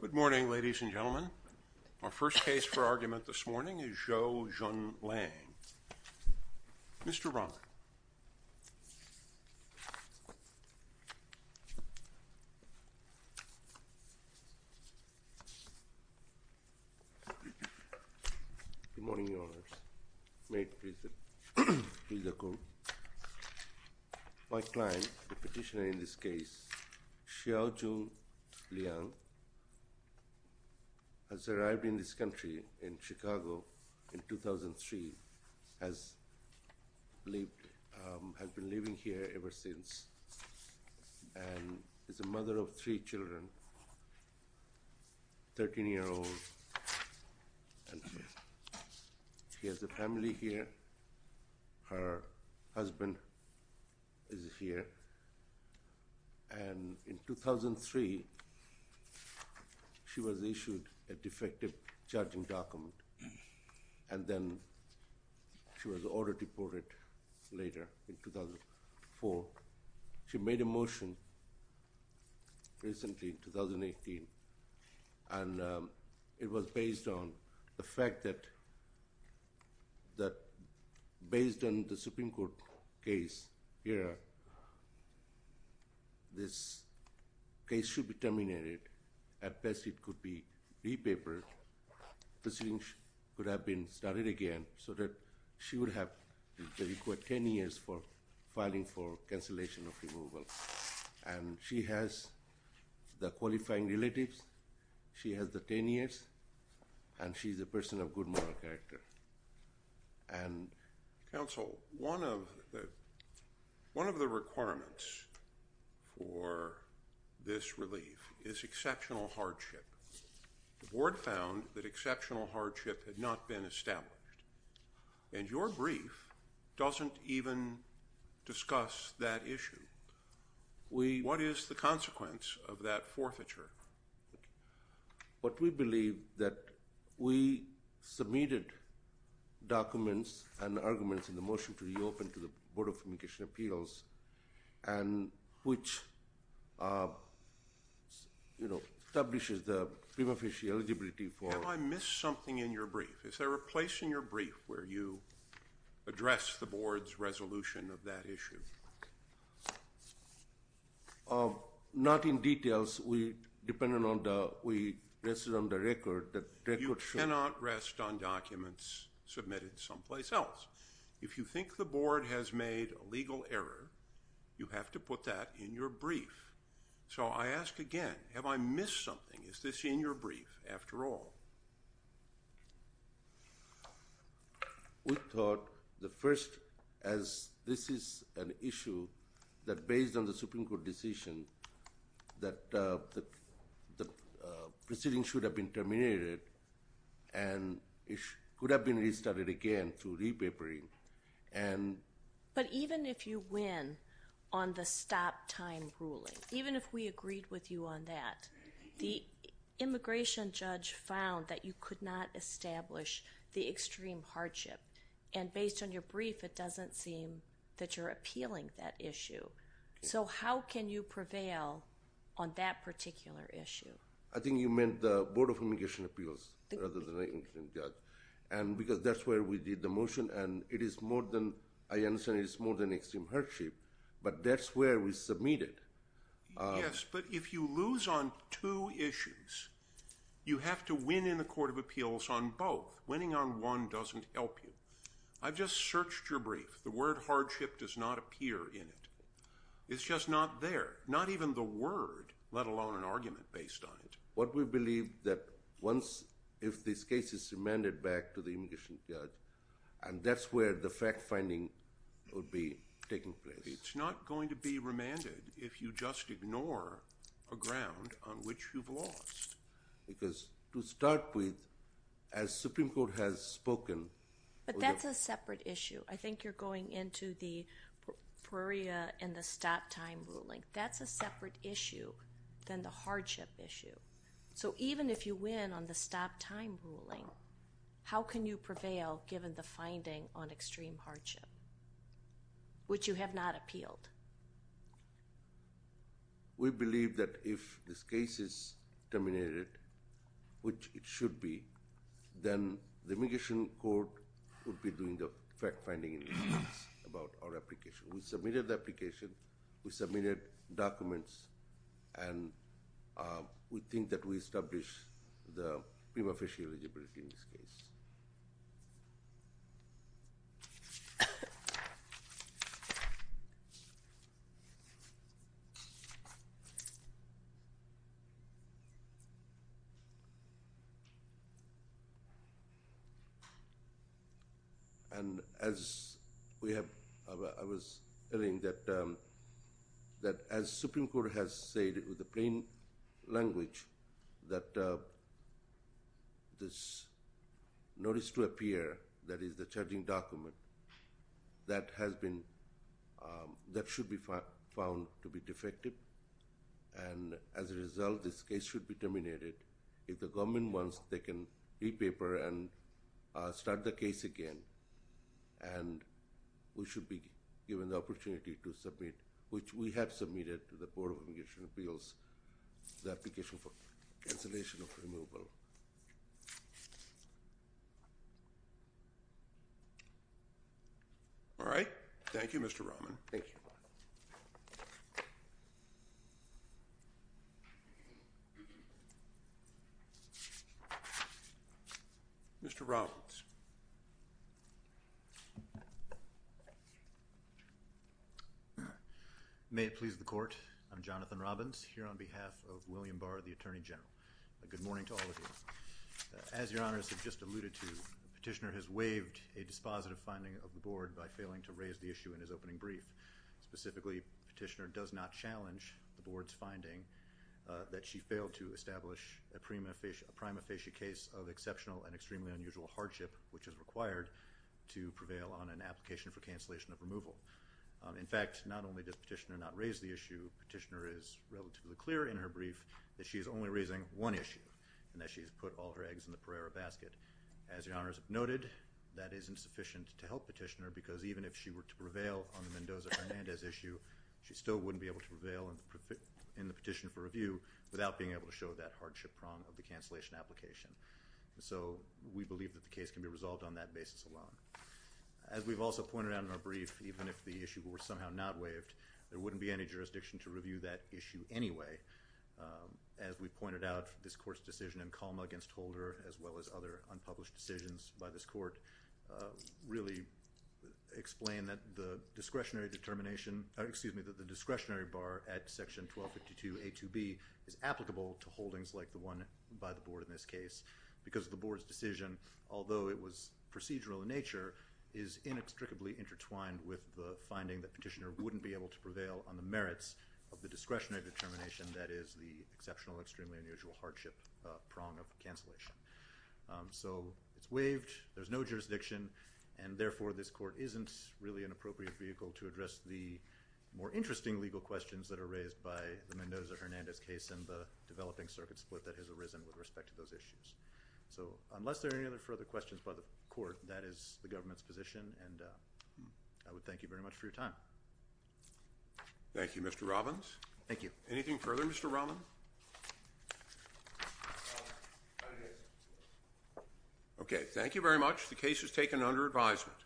Good morning, ladies and gentlemen. Our first case for argument this morning is Zhou Jun Xiaojun Liang has arrived in this country in Chicago in 2003, has been living here ever since, and is a mother of three children, 13-year-old. She has a family here, her husband is here, and in 2003 she was issued a defective charging document, and then she was ordered deported later in 2004. She made a motion recently, in 2018, and it was based on the fact that based on the Supreme Court case here, this case should be terminated. At best, it could be repapered, the proceedings could have been started again, so that she would have the required 10 years for filing for cancellation of removal. And she has the qualifying relatives, she has the 10 years, and she's a person of good moral character. Counsel, one of the requirements for this relief is exceptional hardship. The board found that exceptional hardship had not been established, and your brief doesn't even discuss that issue. What is the consequence of that forfeiture? What we believe that we submitted documents and arguments in the motion to reopen to the Board of Communications and Appeals, and which establishes the prima facie eligibility for Have I missed something in your brief? Is there a place in your brief where you address the board's resolution of that issue? Not in details. We rested on the record. You cannot rest on documents submitted someplace else. If you think the board has made a legal error, you have to put that in your brief. So I ask again, have I missed something? Is this in your brief, after all? We thought the first, as this is an issue, that based on the Supreme Court decision, that the proceeding should have been terminated, and it could have been restarted again through re-papering. But even if you win on the stop-time ruling, even if we agreed with you on that, the immigration judge found that you could not establish the extreme hardship. And based on your brief, it doesn't seem that you're appealing that issue. So how can you prevail on that particular issue? I think you meant the Board of Communications and Appeals, rather than the immigration judge. And because that's where we did the motion, and I understand it's more than extreme hardship, but that's where we submitted. Yes, but if you lose on two issues, you have to win in the Court of Appeals on both. Winning on one doesn't help you. I've just searched your brief. The word hardship does not appear in it. It's just not there. Not even the word, let alone an argument based on it. What we believe that once, if this case is remanded back to the immigration judge, and that's where the fact-finding will be taking place. It's not going to be remanded if you just ignore a ground on which you've lost. Because to start with, as the Supreme Court has spoken... But that's a separate issue. I think you're going into the PREA and the stop-time ruling. That's a separate issue than the hardship issue. So even if you win on the stop-time ruling, how can you prevail given the finding on extreme hardship, which you have not appealed? We believe that if this case is terminated, which it should be, then the immigration court would be doing the fact-finding about our application. We submitted the application, we submitted documents, and we think that we established the prima facie eligibility in this case. And as we have... I was telling that as Supreme Court has said with the plain language that this notice to appear, that is the charging document, that should be found to be defective. And as a result, this case should be terminated. If the government wants, they can re-paper and start the case again. And we should be given the opportunity to submit, which we have submitted to the Board of Immigration Appeals, the application for cancellation of removal. All right. Thank you, Mr. Rahman. Thank you. Mr. Robbins. May it please the court. I'm Jonathan Robbins, here on behalf of William Barr, the Attorney General. Good morning to all of you. As Your Honors have just alluded to, Petitioner has waived a dispositive finding of the Board by failing to raise the issue in his opening brief. Specifically, Petitioner does not challenge the Board's finding that she failed to establish a prima facie case of exceptional and extremely unusual hardship, which is required to prevail on an application for cancellation of removal. In fact, not only does Petitioner not raise the issue, Petitioner is relatively clear in her brief that she is only raising one issue, and that she has put all her eggs in the Pereira basket. As Your Honors have noted, that isn't sufficient to help Petitioner, because even if she were to prevail on the Mendoza-Hernandez issue, she still wouldn't be able to prevail in the petition for review without being able to show that hardship prong of the cancellation application. So, we believe that the case can be resolved on that basis alone. As we've also pointed out in our brief, even if the issue were somehow not waived, there wouldn't be any jurisdiction to review that issue anyway. As we've pointed out, this Court's decision in Calma against Holder, as well as other unpublished decisions by this Court, really explain that the discretionary determination, or excuse me, that the discretionary bar at section 1252A2B is applicable to holdings like the one by the Board in this case, because the Board's decision, although it was procedural in nature, is inextricably intertwined with the finding that Petitioner wouldn't be able to prevail on the merits of the discretionary determination that is the exceptional, extremely unusual hardship prong of cancellation. So, it's waived, there's no jurisdiction, and therefore this Court isn't really an appropriate vehicle to address the more interesting legal questions that are raised by the Mendoza-Hernandez case and the developing circuit split that has arisen with respect to those issues. So, unless there are any other further questions by the Court, that is the Government's position, and I would thank you very much for your time. Thank you, Mr. Robbins. Thank you. Anything further, Mr. Robbins? Okay, thank you very much. The case is taken under advisement.